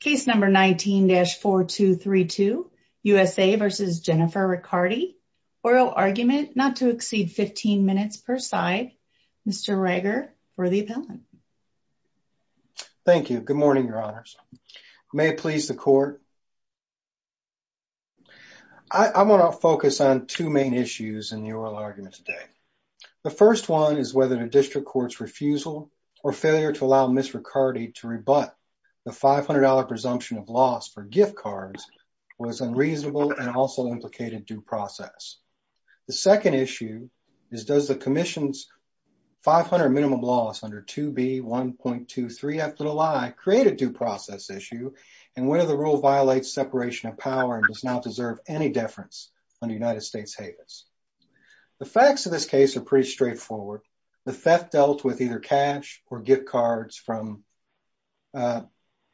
Case number 19-4232, USA v. Jennifer Riccardi, oral argument not to exceed 15 minutes per side. Mr. Reiger for the appellant. Thank you. Good morning, your honors. May it please the court. I want to focus on two main issues in the oral argument today. The first one is whether the presumption of loss for gift cards was unreasonable and also implicated due process. The second issue is does the commission's 500 minimum loss under 2B.1.23 after the lie create a due process issue and whether the rule violates separation of power and does not deserve any deference under United States HABES. The facts of this case are pretty straightforward. The theft dealt with either cash or gift cards from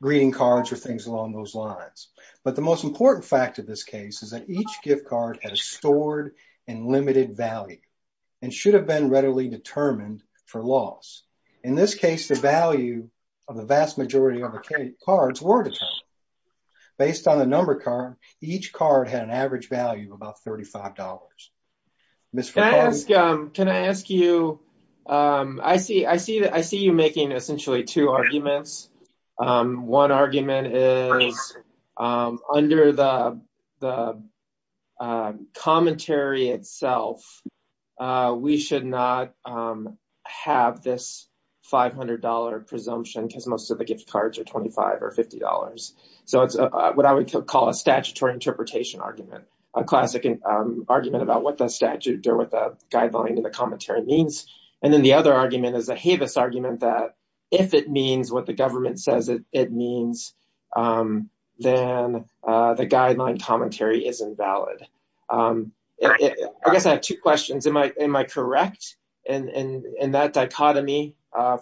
greeting cards or things along those lines. But the most important fact of this case is that each gift card has stored and limited value and should have been readily determined for loss. In this case, the value of the vast majority of the cards were determined. Based on the number card, each card had an average value of about $35. Can I ask you, I see you making essentially two arguments. One argument is under the commentary itself, we should not have this $500 presumption because most of the gift cards are statutes. The other argument is the HABES argument that if it means what the government says it means, then the guideline commentary is invalid. I guess I have two questions. Am I correct in that dichotomy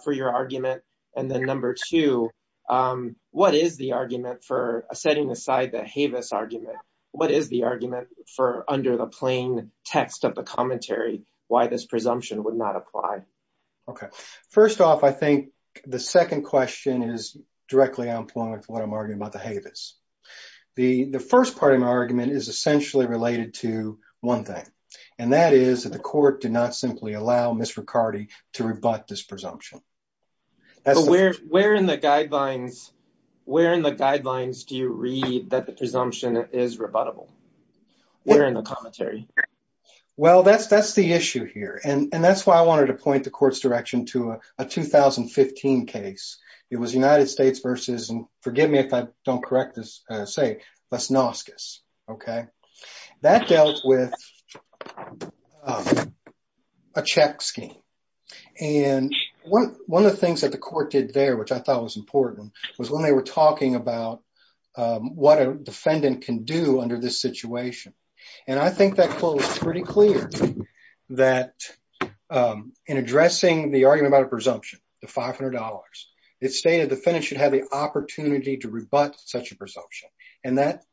for your argument? And then number two, what is the argument for under the plain text of the commentary, why this presumption would not apply? Okay. First off, I think the second question is directly on point with what I'm arguing about the HABES. The first part of my argument is essentially related to one thing, and that is that the court did not simply allow Ms. Riccardi to rebut this presumption. Where in the guidelines do you read that the presumption is rebuttable? Where in the commentary? Well, that's the issue here. And that's why I wanted to point the court's direction to a 2015 case. It was United States versus, and forgive me if I don't correct this, say Lesnoskus. Okay. That dealt with a check scheme. And one of the things that the court did there, which I thought was important, was when they were talking about what a defendant can do under this situation. And I think that quote was pretty clear that in addressing the argument about a presumption, the $500, it stated the defendant should have the opportunity to rebut such a presumption. And that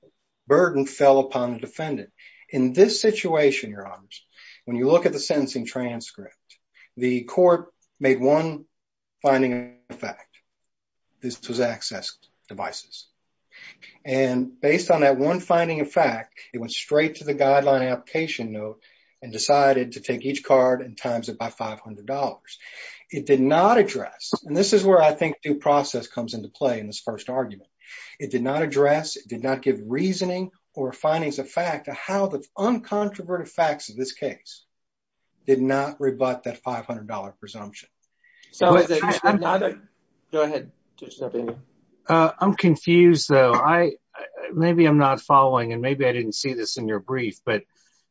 burden fell upon the defendant. In this situation, Your Honors, when you look at the access devices. And based on that one finding of fact, it went straight to the guideline application note and decided to take each card and times it by $500. It did not address, and this is where I think due process comes into play in this first argument. It did not address, it did not give reasoning or findings of fact to how the uncontroverted facts of this case did not rebut that $500 presumption. Go ahead. I'm confused though. Maybe I'm not following and maybe I didn't see this in your brief, but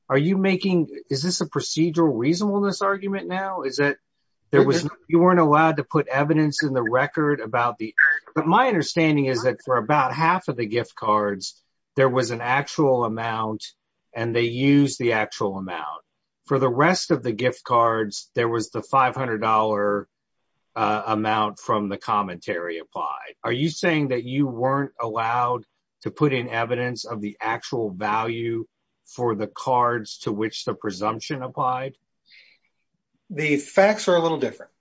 are you making, is this a procedural reasonableness argument now? Is that you weren't allowed to put evidence in the record about the, but my understanding is that for about half of the gift cards, there was an actual amount and they use the actual amount. For the rest of the gift cards, there was the $500 amount from the commentary applied. Are you saying that you weren't allowed to put in evidence of the actual value for the cards to which the presumption applied? The facts are a little different.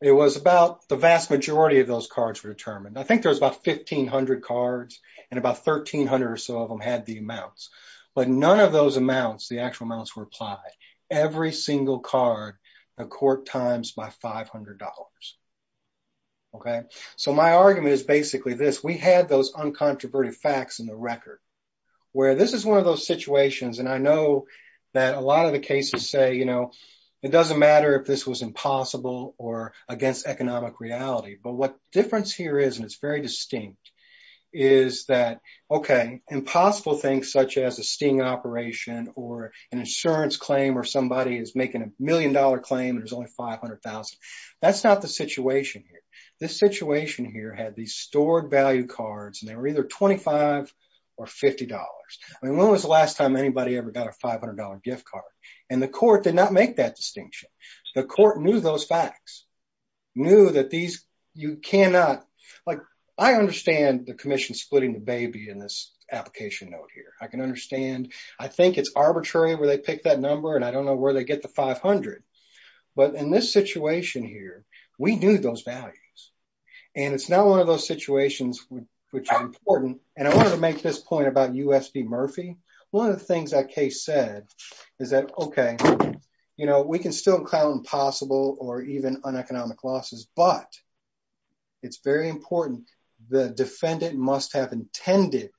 It was about the vast majority of those cards were determined. I think there was about 1500 cards and about 1300 or so of them had the amounts, but none of those amounts, the actual amounts were applied. Every single card, the court times by $500. Okay. So my argument is basically this. We had those uncontroverted facts in the record where this is one of those situations. And I know that a lot of the cases say, it doesn't matter if this was impossible or against economic reality, but what difference here is, and it's very distinct, is that, okay, impossible things such as a sting operation or an insurance claim, or somebody is making a million dollar claim and there's only 500,000. That's not the situation here. This situation here had these stored value cards and they were either 25 or $50. I mean, when was the last time anybody ever got a $500 gift card? And the court did not make that distinction. The court knew those facts, knew that these, you cannot, like, I understand the commission splitting the baby in this application note here. I can understand, I think it's arbitrary where they pick that number and I don't know where they get the 500. But in this situation here, we knew those values and it's not one of those situations which are important. And I wanted to make this point about USD Murphy. One of the things that case said is that, okay, you know, we can still count impossible or even uneconomic losses, but it's very important. The defendant must have intended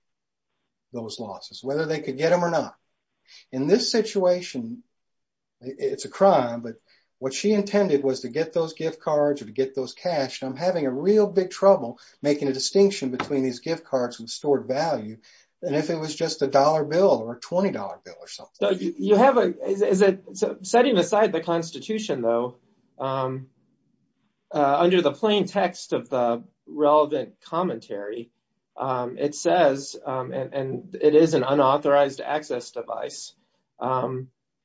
those losses, whether they could get them or not. In this situation, it's a crime, but what she intended was to get those gift cards or to get those cash. And I'm having a real big trouble making a distinction between these gift cards. Setting aside the constitution though, under the plain text of the relevant commentary, it says, and it is an unauthorized access device,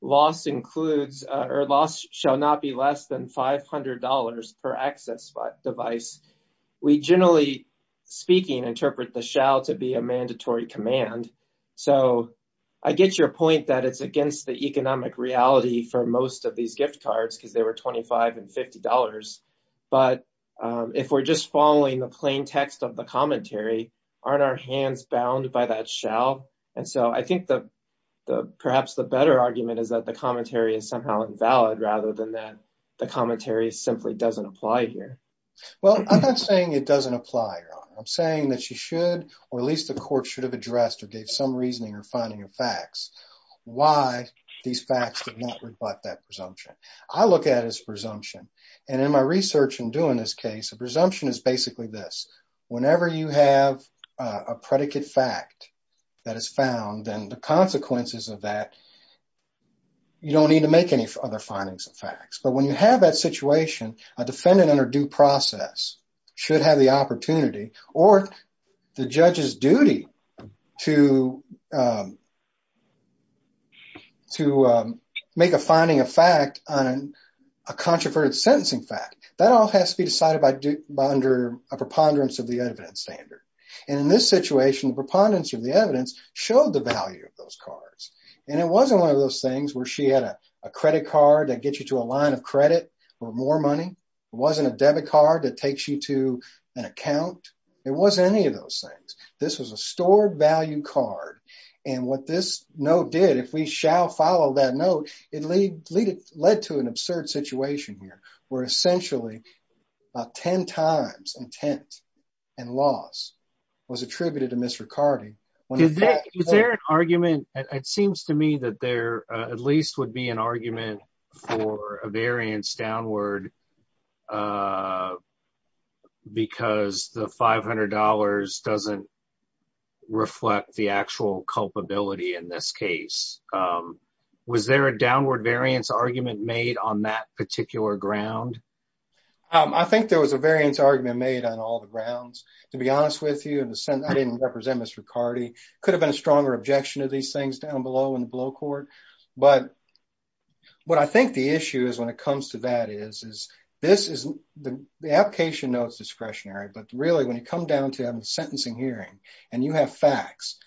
loss includes or loss shall not be less than $500 per access device. We generally speaking, interpret the shall to be a mandatory command. So I get your point that it's against the economic reality for most of these gift cards, because they were $25 and $50. But if we're just following the plain text of the commentary, aren't our hands bound by that shall? And so I think that perhaps the better argument is that the commentary is somehow invalid rather than that the commentary simply doesn't apply here. Well, I'm not saying it doesn't apply. I'm saying that you should, or at least the court should have addressed or gave some reasoning or finding of facts why these facts did not reflect that presumption. I look at it as presumption. And in my research and doing this case, a presumption is basically this. Whenever you have a predicate fact that is found, then the consequences of that, you don't need to make any other findings of facts. But when you have that situation, a defendant under due process should have the opportunity or the judge's duty to make a finding of fact on a controversial sentencing fact. That all has to be decided by under a preponderance of the evidence standard. And in this situation, the preponderance of the evidence showed the value of those cards. And it wasn't one of those things where she had a credit card that gets you to a line of credit or more money. It wasn't a debit card that takes you to an account. It wasn't any of those things. This was a stored value card. And what this note did, if we shall follow that note, it led to an absurd situation here where essentially 10 times intent and loss was attributed to Ms. Ricardi. Is there an argument? It seems to me that there at least would be an argument for a variance downward because the $500 doesn't reflect the actual culpability in this case. Was there a downward variance argument made on that particular ground? I think there was a variance argument made on all the grounds. To be honest with you, in a sense, I didn't represent Ms. Ricardi. Could have been a stronger objection of these down below in the below court. But what I think the issue is when it comes to that is, the application notes discretionary. But really, when you come down to having a sentencing hearing and you have facts,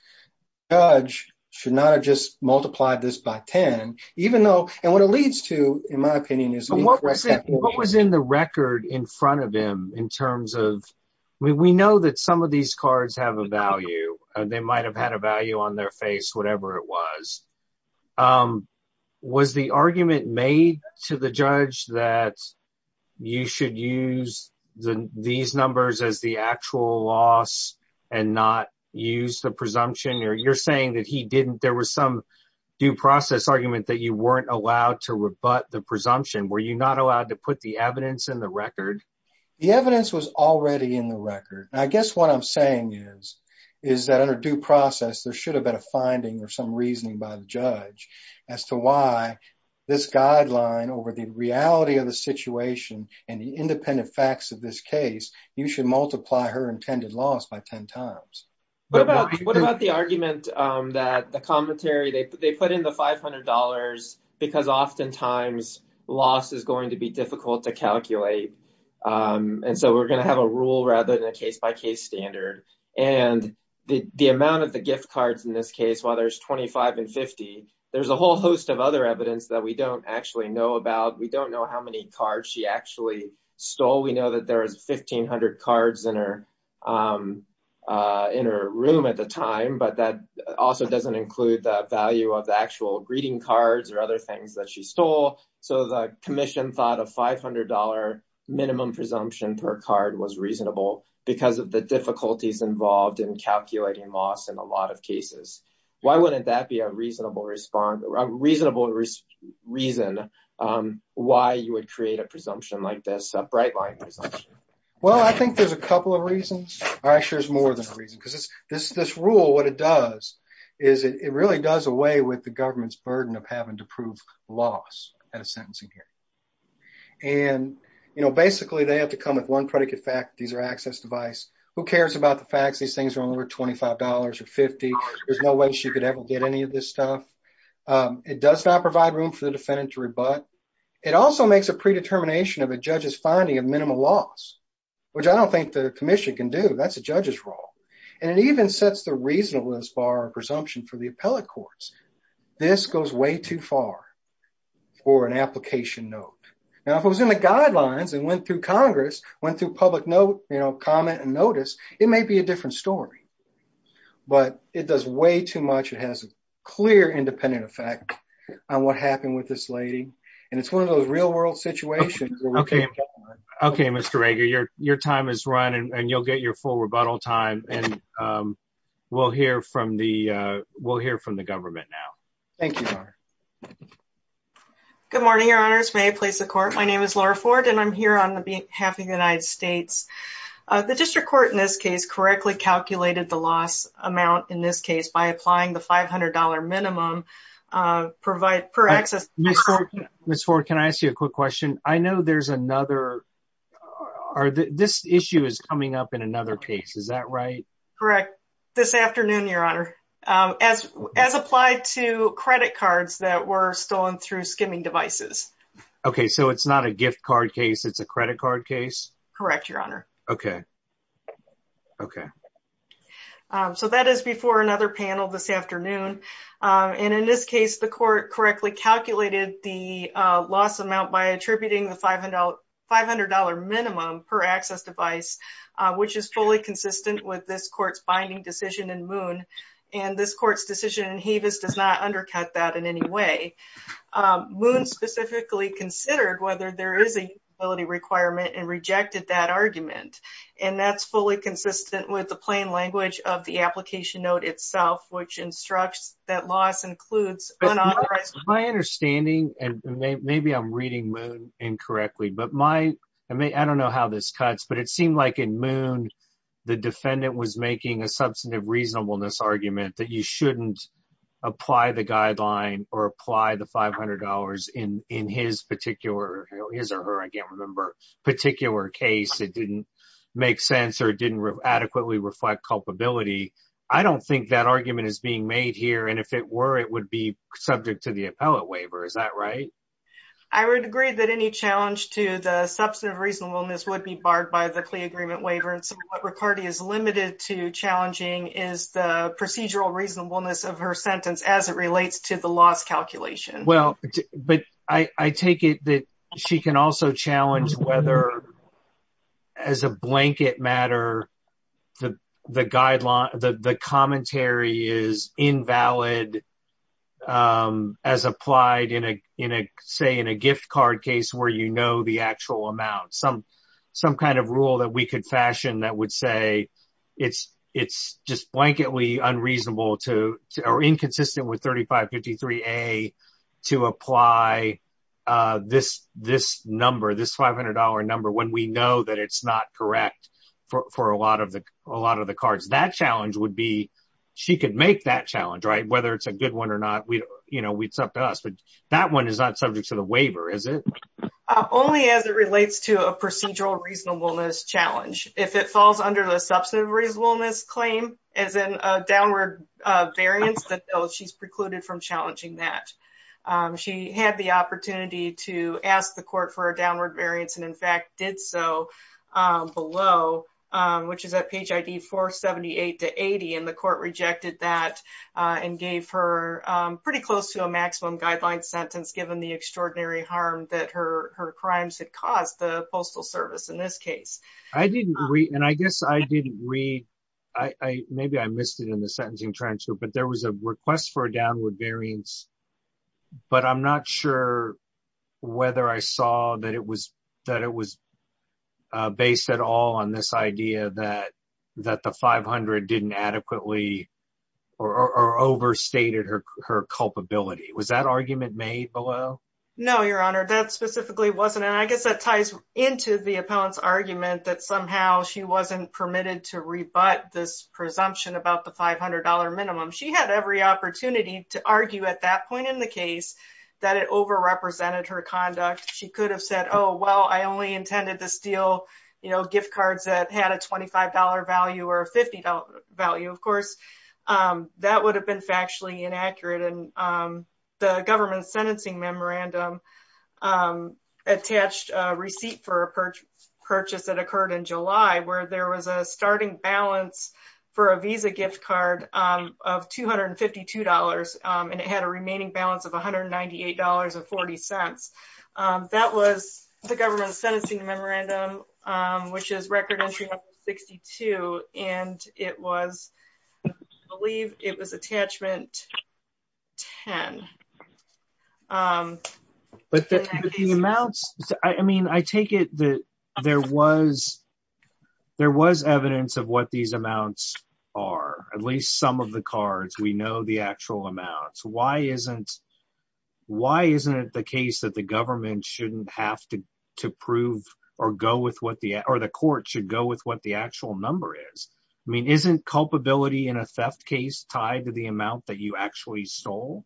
the judge should not have just multiplied this by 10, even though... And what it leads to, in my opinion, is... What was in the record in front of him in terms of... We know that some of these cards have a value. They might have had a value on their face, whatever it was. Was the argument made to the judge that you should use these numbers as the actual loss and not use the presumption? You're saying that there was some due process argument that you weren't allowed to rebut the presumption. Were you not allowed to put the evidence in the record? The evidence was already in the record. I guess what I'm saying is that under due process, there should have been a finding or some reasoning by the judge as to why this guideline over the reality of the situation and the independent facts of this case, you should multiply her intended loss by 10 times. What about the argument that the commentary... They put in the $500 because oftentimes loss is going to be difficult to calculate. And so we're going to have a rule rather than a case-by-case standard. And the amount of the gift cards in this case, while there's 25 and 50, there's a whole host of other evidence that we don't actually know about. We don't know how many cards she actually stole. We know that there was 1,500 cards in her room at the time, but that also doesn't include the value of the actual greeting cards or other that she stole. So the commission thought a $500 minimum presumption per card was reasonable because of the difficulties involved in calculating loss in a lot of cases. Why wouldn't that be a reasonable reason why you would create a presumption like this, a bright line presumption? Well, I think there's a couple of reasons. I'm sure there's more than a reason because this rule, what it does is it really does away with the government's burden of having to prove loss at a sentencing hearing. And, you know, basically they have to come with one predicate fact. These are access device. Who cares about the facts? These things are only worth $25 or 50. There's no way she could ever get any of this stuff. It does not provide room for the defendant to rebut. It also makes a predetermination of a judge's finding of minimal loss, which I don't think the commission can do. That's a judge's role. And it even sets the bar of presumption for the appellate courts. This goes way too far for an application note. Now, if it was in the guidelines and went through Congress, went through public note, you know, comment and notice, it may be a different story. But it does way too much. It has a clear independent effect on what happened with this lady. And it's one of those real world situations. Okay, Mr. Rager, your time is running and you'll get your full rebuttal time. And we'll hear from the, we'll hear from the government now. Thank you. Good morning, your honors. May I please the court? My name is Laura Ford and I'm here on the behalf of the United States. The district court in this case correctly calculated the loss amount in this case by applying the $500 minimum provide for access. Miss Ford, can I ask you a quick question? I know there's another or this issue is coming up in another case. Is that right? Correct. This afternoon, your honor, as, as applied to credit cards that were stolen through skimming devices. Okay. So it's not a gift card case. It's a credit card case. Correct. Your honor. Okay. Okay. So that is before another panel this afternoon. And in this case, the court correctly calculated the loss amount by attributing the $500, $500 minimum per access device, which is fully consistent with this court's binding decision in moon. And this court's decision in Hevis does not undercut that in any way moon specifically considered whether there is a ability requirement and rejected that argument. And that's fully consistent with the plain language of the application note itself, which instructs that loss includes my understanding. And maybe I'm reading incorrectly, but my, I mean, I don't know how this cuts, but it seemed like in moon, the defendant was making a substantive reasonableness argument that you shouldn't apply the guideline or apply the $500 in, in his particular, his or her, I can't remember particular case. It didn't make sense or didn't adequately reflect culpability. I don't think that argument is being made here. And if it were, it would be that any challenge to the substantive reasonableness would be barred by the CLEA agreement waiver. And so what Riccardi is limited to challenging is the procedural reasonableness of her sentence as it relates to the loss calculation. Well, but I take it that she can also challenge whether as a blanket matter, the, the guideline, the, the commentary is invalid as applied in a, in a, say in a gift card case where, you know, the actual amount, some, some kind of rule that we could fashion that would say it's, it's just blanketly unreasonable to, or inconsistent with 3553A to apply this, this number, this $500 number, when we know that it's not correct for, for a lot of the, a lot of the cards. That challenge would be, she could make that challenge, right? Whether it's a good one or not, we, you know, it's up to us, but that one is not subject to the waiver, is it? Only as it relates to a procedural reasonableness challenge. If it falls under the substantive reasonableness claim as in a downward variance that she's precluded from challenging that. She had the opportunity to ask the court for a downward variance and in fact did so below, which is at page ID 478 to 80, and the court rejected that and gave her pretty close to a maximum guideline sentence given the extraordinary harm that her, her crimes had caused the postal service in this case. I didn't read, and I guess I didn't read, I, I, maybe I missed it in the sentencing transfer, but there was a request for a downward variance, but I'm not sure whether I saw that it was, that it was based at all on this idea that, that the 500 didn't adequately or, or overstated her, her culpability. Was that argument made below? No, your honor, that specifically wasn't. And I guess that ties into the appellant's argument that somehow she wasn't permitted to rebut this presumption about the $500 minimum. She had every opportunity to argue at that point in the case that it overrepresented her conduct. She could have said, oh, well, I only intended to steal, you know, gift cards that had a $25 value or a $50 value. Of course, that would have been factually inaccurate. And the government's in July where there was a starting balance for a visa gift card of $252. And it had a remaining balance of $198 and 40 cents. That was the government sentencing memorandum, which is record entry number 62. And it was, I believe it was attachment 10. But the amounts, I mean, I take it that there was, there was evidence of what these amounts are, at least some of the cards, we know the actual amounts. Why isn't, why isn't it the case that the government shouldn't have to, to prove or go with what the, or the court should go with what the actual number is? I mean, isn't culpability in a theft case tied to the amount that you actually stole?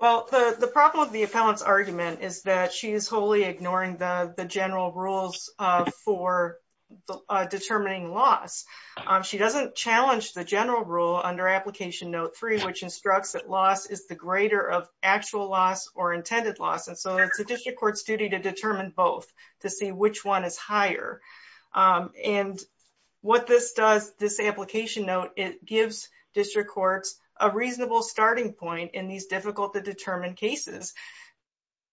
Well, the problem with the appellant's argument is that she is wholly ignoring the general rules for determining loss. She doesn't challenge the general rule under application note three, which instructs that loss is the greater of actual loss or intended loss. And so it's a district court's duty to determine both to see which one is higher. And what this does, this application note, it gives district courts a reasonable starting point in these difficult to determine cases.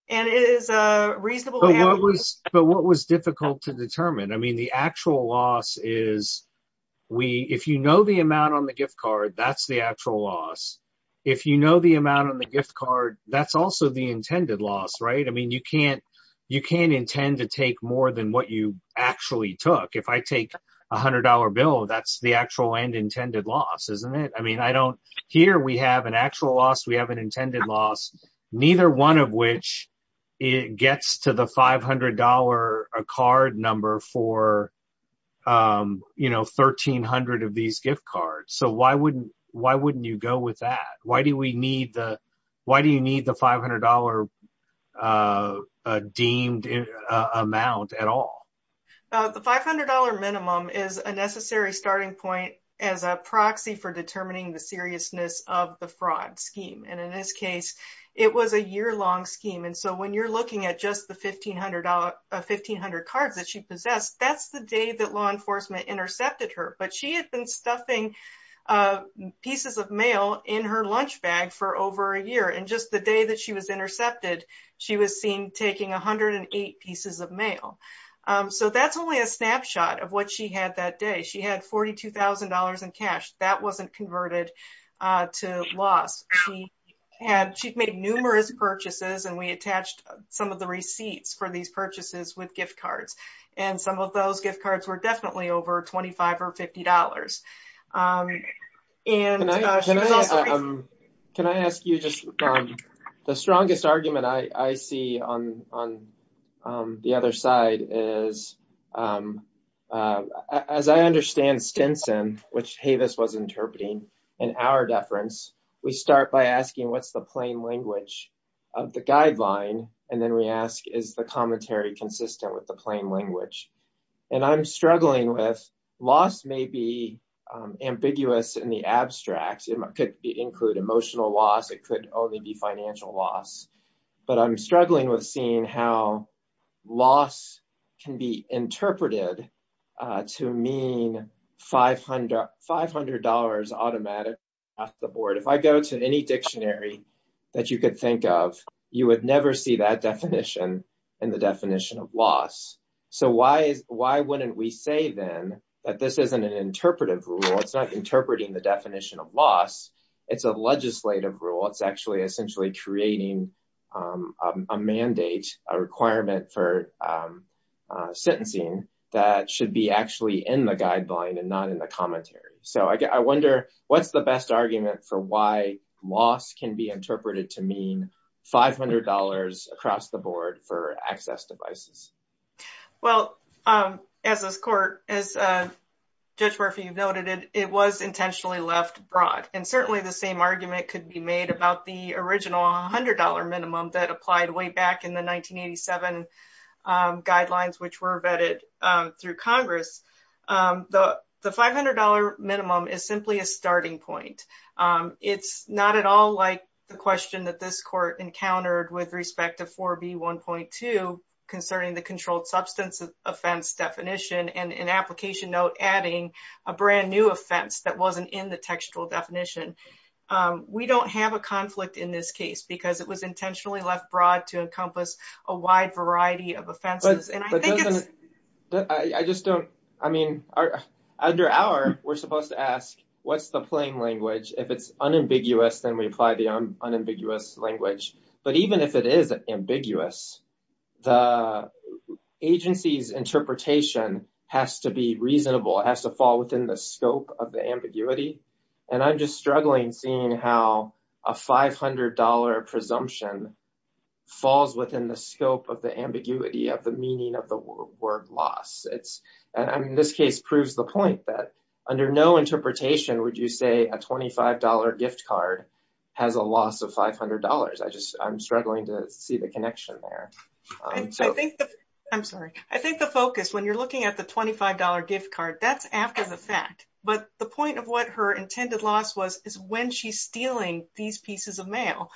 And it is a reasonable- But what was, but what was difficult to determine? I mean, the actual loss is we, if you know the amount on the gift card, that's the actual loss. If you know the amount on the gift card, that's also the intended loss, right? I mean, you can't, you can't intend to take more than what you actually took. If I take a hundred dollar bill, that's the actual and intended loss, isn't it? I mean, I don't, here we have an actual loss, we have an intended loss, neither one of which it gets to the $500 card number for, you know, 1,300 of these gift cards. So why wouldn't, why wouldn't you go with that? Why do we need the, why do you need the $500 deemed amount at all? The $500 minimum is a necessary starting point as a proxy for determining the seriousness of the fraud scheme. And in this case, it was a year-long scheme. And so when you're looking at just the $1,500, 1,500 cards that she possessed, that's the day that law enforcement intercepted her, but she had been stuffing pieces of mail in her lunch bag for over a year. And just the day that she was intercepted, she was seen taking 108 pieces of mail. So that's only a snapshot of what she had that day. She had $42,000 in cash that wasn't converted to loss. She had, she'd made numerous purchases and we attached some of the receipts for these purchases with gift cards. And some of those gift cards were definitely over $25 or $50. Can I ask you just, the strongest argument I see on the other side is, as I understand Stinson, which Havis was interpreting in our deference, we start by asking what's the plain language of the guideline. And we ask, is the commentary consistent with the plain language? And I'm struggling with, loss may be ambiguous in the abstract. It could include emotional loss. It could only be financial loss. But I'm struggling with seeing how loss can be interpreted to mean $500 automatic at the board. If I go to any dictionary that you could think of, you would never see that definition in the definition of loss. So why wouldn't we say then that this isn't an interpretive rule. It's not interpreting the definition of loss. It's a legislative rule. It's actually essentially creating a mandate, a requirement for sentencing that should be actually in the argument for why loss can be interpreted to mean $500 across the board for access devices. Well, as Judge Murphy noted, it was intentionally left broad. And certainly the same argument could be made about the original $100 minimum that applied way back in the 1987 guidelines, which were vetted through Congress. The $500 minimum is simply a starting point. It's not at all like the question that this court encountered with respect to 4B1.2 concerning the controlled substance offense definition and an application note adding a brand new offense that wasn't in the textual definition. We don't have a conflict in this case because it was intentionally left broad to encompass a wide variety of offenses. I mean, under our, we're supposed to ask, what's the plain language? If it's unambiguous, then we apply the unambiguous language. But even if it is ambiguous, the agency's interpretation has to be reasonable. It has to fall within the scope of the ambiguity. And I'm just struggling seeing how a $500 presumption falls within the scope of the ambiguity of the meaning of the word loss. And I mean, this case proves the point that under no interpretation would you say a $25 gift card has a loss of $500. I just, I'm struggling to see the connection there. I'm sorry. I think the focus, when you're looking at the $25 gift card, that's after the fact. But the point of what her intended loss was is when she's stealing these pieces of mail,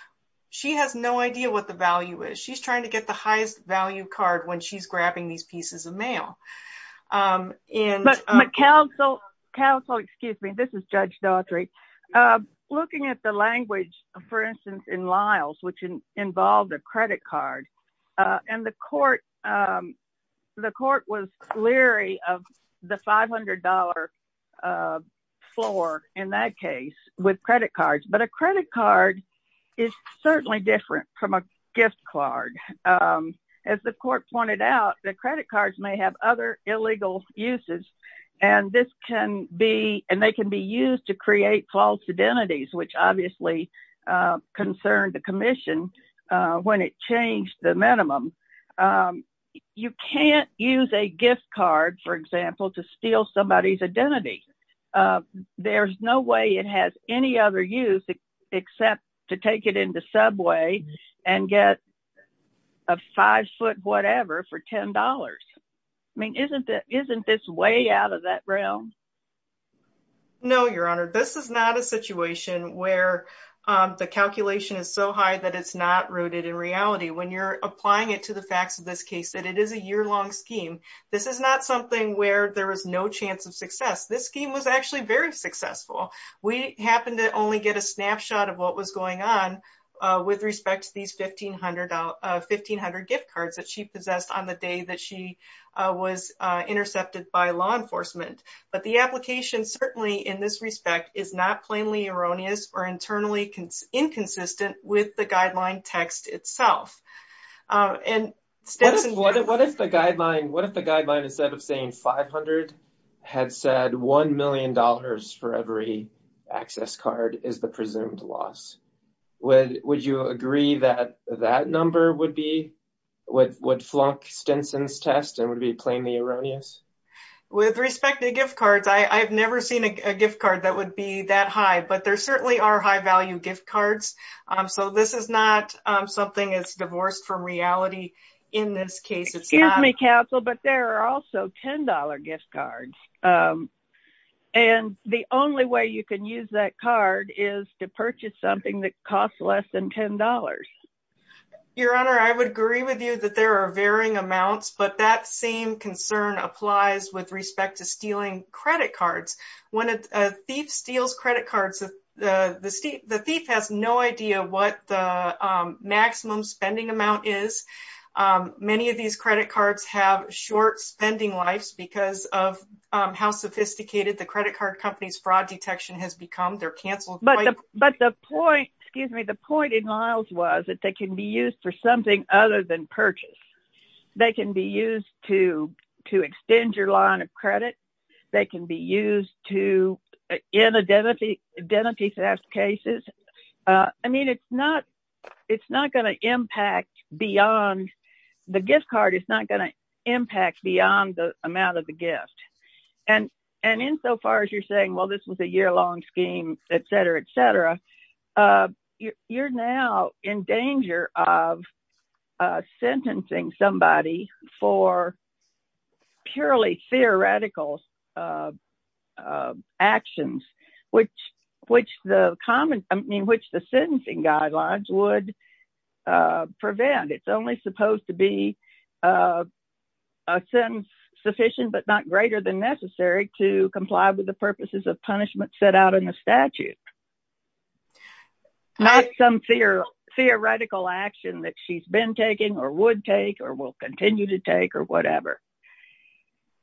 she has no idea what the value is. She's trying to get the highest value card when she's grabbing these pieces of mail. But counsel, excuse me, this is Judge Daughtry. Looking at the language, for instance, in Lyles, which involved a credit card, and the court was leery of the $500 floor in that case with credit cards. But a credit card is certainly different from a gift card. As the court pointed out, the credit cards may have other illegal uses. And this can be, and they can be used to create false identities, which obviously concerned the commission when it changed the minimum. You can't use a gift card, for example, to steal somebody's identity. There's no way it has any other use except to take it into Subway and get a five foot whatever for $10. I mean, isn't this way out of that realm? No, Your Honor, this is not a situation where the calculation is so high that it's not rooted in reality. When you're applying it to the facts of this case, that it is a year long scheme. This is not something where there is no chance of success. This scheme was actually very successful. We happened to only get a snapshot of what was going on with respect to these 1500 gift cards that she possessed on the day that she was intercepted by law enforcement. But the application certainly in this respect is not plainly erroneous or internally inconsistent with the guideline text itself. What if the guideline instead of saying 500 had said $1 million for every access card is the presumed loss? Would you agree that that number would flunk Stinson's test and would be plainly erroneous? With respect to gift cards, I've never seen a gift card that would be that gift cards. So this is not something that's divorced from reality. In this case, it's not a capsule, but there are also $10 gift cards. And the only way you can use that card is to purchase something that costs less than $10. Your Honor, I would agree with you that there are varying amounts, but that same concern applies with respect to stealing credit cards. When a thief steals credit cards, the thief has no idea what the maximum spending amount is. Many of these credit cards have short spending lives because of how sophisticated the credit card company's fraud detection has become. They're canceled. But the point, excuse me, the point in Liles was that they can be used for something other than purchase. They can be used to extend your line of credit. They can be used to in identity theft cases. I mean, it's not going to impact beyond the gift card. It's not going to impact beyond the amount of the gift. And insofar as you're saying, well, this was a year-long scheme, et cetera, et cetera, you're now in danger of sentencing somebody for purely theoretical actions, which the common, I mean, which the sentencing guidelines would prevent. It's only supposed to be a sentence sufficient, but not greater than necessary to comply with the purposes of punishment set out in the statute. Not some theoretical action that she's been taking or would take or will continue to take or whatever.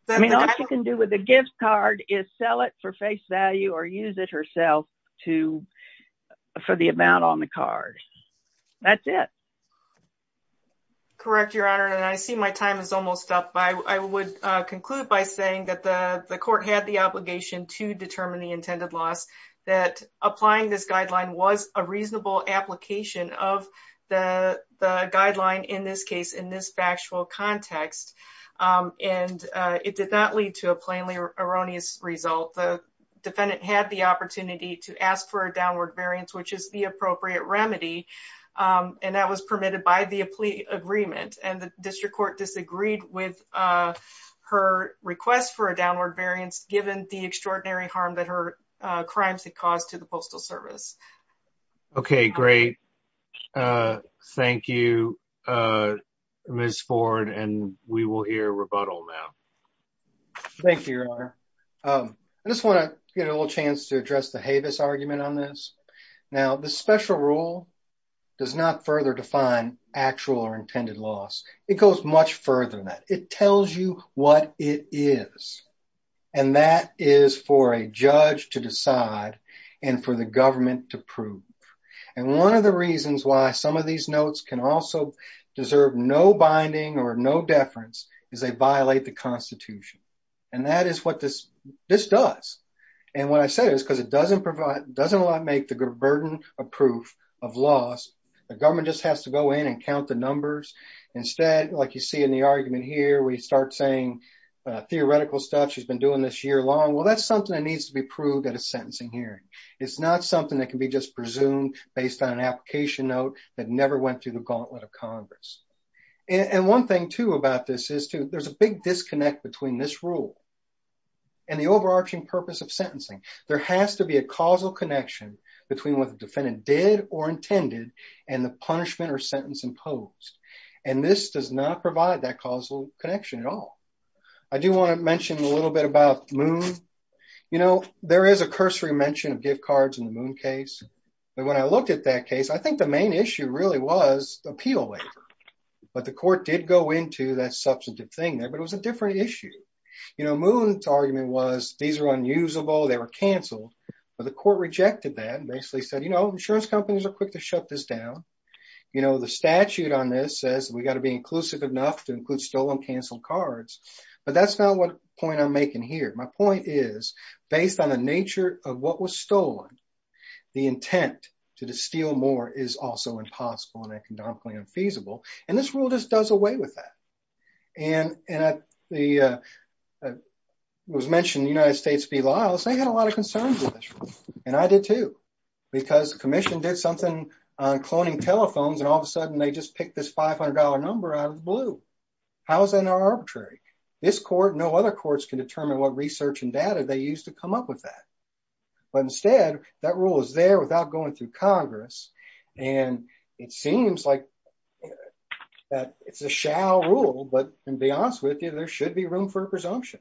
I mean, all she can do with a gift card is sell it for face value or use it herself for the amount on the card. That's it. Correct, Your Honor. And I see my time is almost up. I would conclude by saying that the court had the obligation to determine the intended loss, that applying this guideline was a reasonable application of the guideline in this case, in this factual context. And it did not lead to a plainly erroneous result. The defendant had the opportunity to ask for a downward variance, which is the appropriate remedy. And that was permitted by the plea agreement. And the district court disagreed with her request for a downward variance given the extraordinary harm that her Okay, great. Thank you, Ms. Ford. And we will hear rebuttal now. Thank you, Your Honor. I just want to get a little chance to address the Havis argument on this. Now, the special rule does not further define actual or intended loss. It goes much further than that. It tells you what it is. And that is for a judge to decide and for the government to prove. And one of the reasons why some of these notes can also deserve no binding or no deference is they violate the Constitution. And that is what this does. And what I said is because it doesn't make the burden of proof of loss. The government just has to go in and count the numbers. Instead, like you see in the argument here, we start saying theoretical stuff she's been doing this year long. Well, that's something that needs to be proved at a sentencing hearing. It's not something that can be just presumed based on an application note that never went through the gauntlet of Congress. And one thing too about this is there's a big disconnect between this rule and the overarching purpose of sentencing. There has to be a causal connection between what the defendant did or intended and the punishment or sentence imposed. And this does not provide that causal connection at all. I do want to mention a little bit about Moon. You know, there is a cursory mention of gift cards in the Moon case. But when I looked at that case, I think the main issue really was the appeal waiver. But the court did go into that substantive thing there, but it was a different issue. You know, Moon's argument was these are unusable, they were canceled. But the court rejected that and basically said, you know, insurance companies are quick to shut this down. You know, the statute on this says we got to be inclusive enough to include stolen, canceled cards. But that's not what point I'm making here. My point is, based on the nature of what was stolen, the intent to steal more is also impossible and economically unfeasible. And this rule just does away with that. And it was mentioned in the United States v. Lyles, they had a lot of concerns with this. And I did too. Because the commission did something on cloning telephones and all of a sudden they just picked this $500 number out of blue. How is that not arbitrary? This court, no other courts can determine what research and data they use to come up with that. But instead, that rule is there without going through Congress. And it seems like it's a shall rule, but to be honest with you, there should be room for presumption.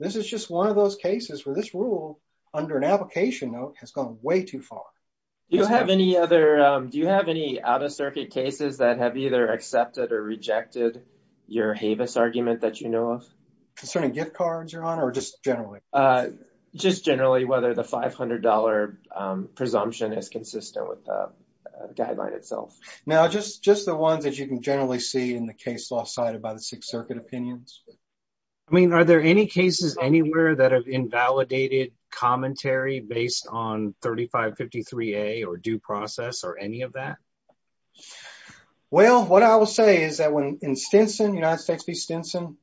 This is just one of those cases where this rule under an application note has gone way too far. Do you have any other, do you have any out of circuit cases that have either accepted or rejected your Havis argument that you know of? Concerning gift cards, Your Honor, or just generally? Just generally, whether the $500 presumption is consistent with the guideline itself. Now, just the ones that you can generally see in the case law cited by the Sixth Circuit opinions. I mean, are there any cases anywhere that have invalidated commentary based on 3553A or due process or any of that? Well, what I will say is that when in United States v. Stinson,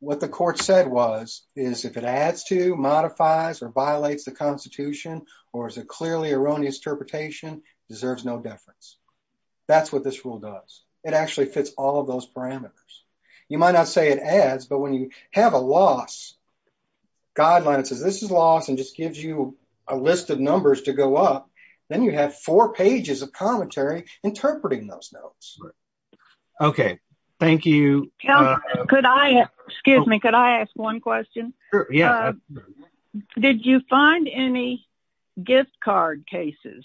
what the court said was, is if it adds to, modifies, or violates the Constitution, or is a clearly erroneous interpretation, deserves no deference. That's what this rule does. It actually fits all of those parameters. You might not say it adds, but when you have a loss guideline that says this is loss and just gives you a list of numbers to go up, then you have four pages of commentary interpreting those notes. Okay, thank you. Could I, excuse me, could I ask one question? Sure, yeah. Did you find any gift card cases?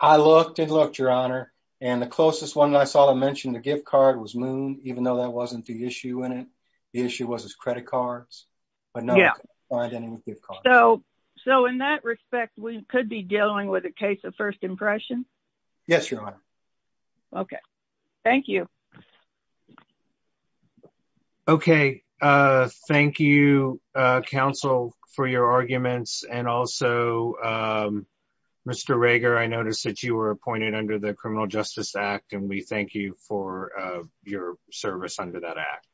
I looked and looked, Your Honor, and the closest one I saw to mention the gift card was Moon, even though that wasn't the issue in it. The issue was his credit cards. But no, I didn't find any gift cards. So, in that respect, we could be dealing with a case of first impression? Yes, Your Honor. Okay, thank you. Okay, thank you, counsel, for your arguments. And also, Mr. Rager, I noticed that you were appointed under the Criminal Justice Act, and we thank you for your service under that act.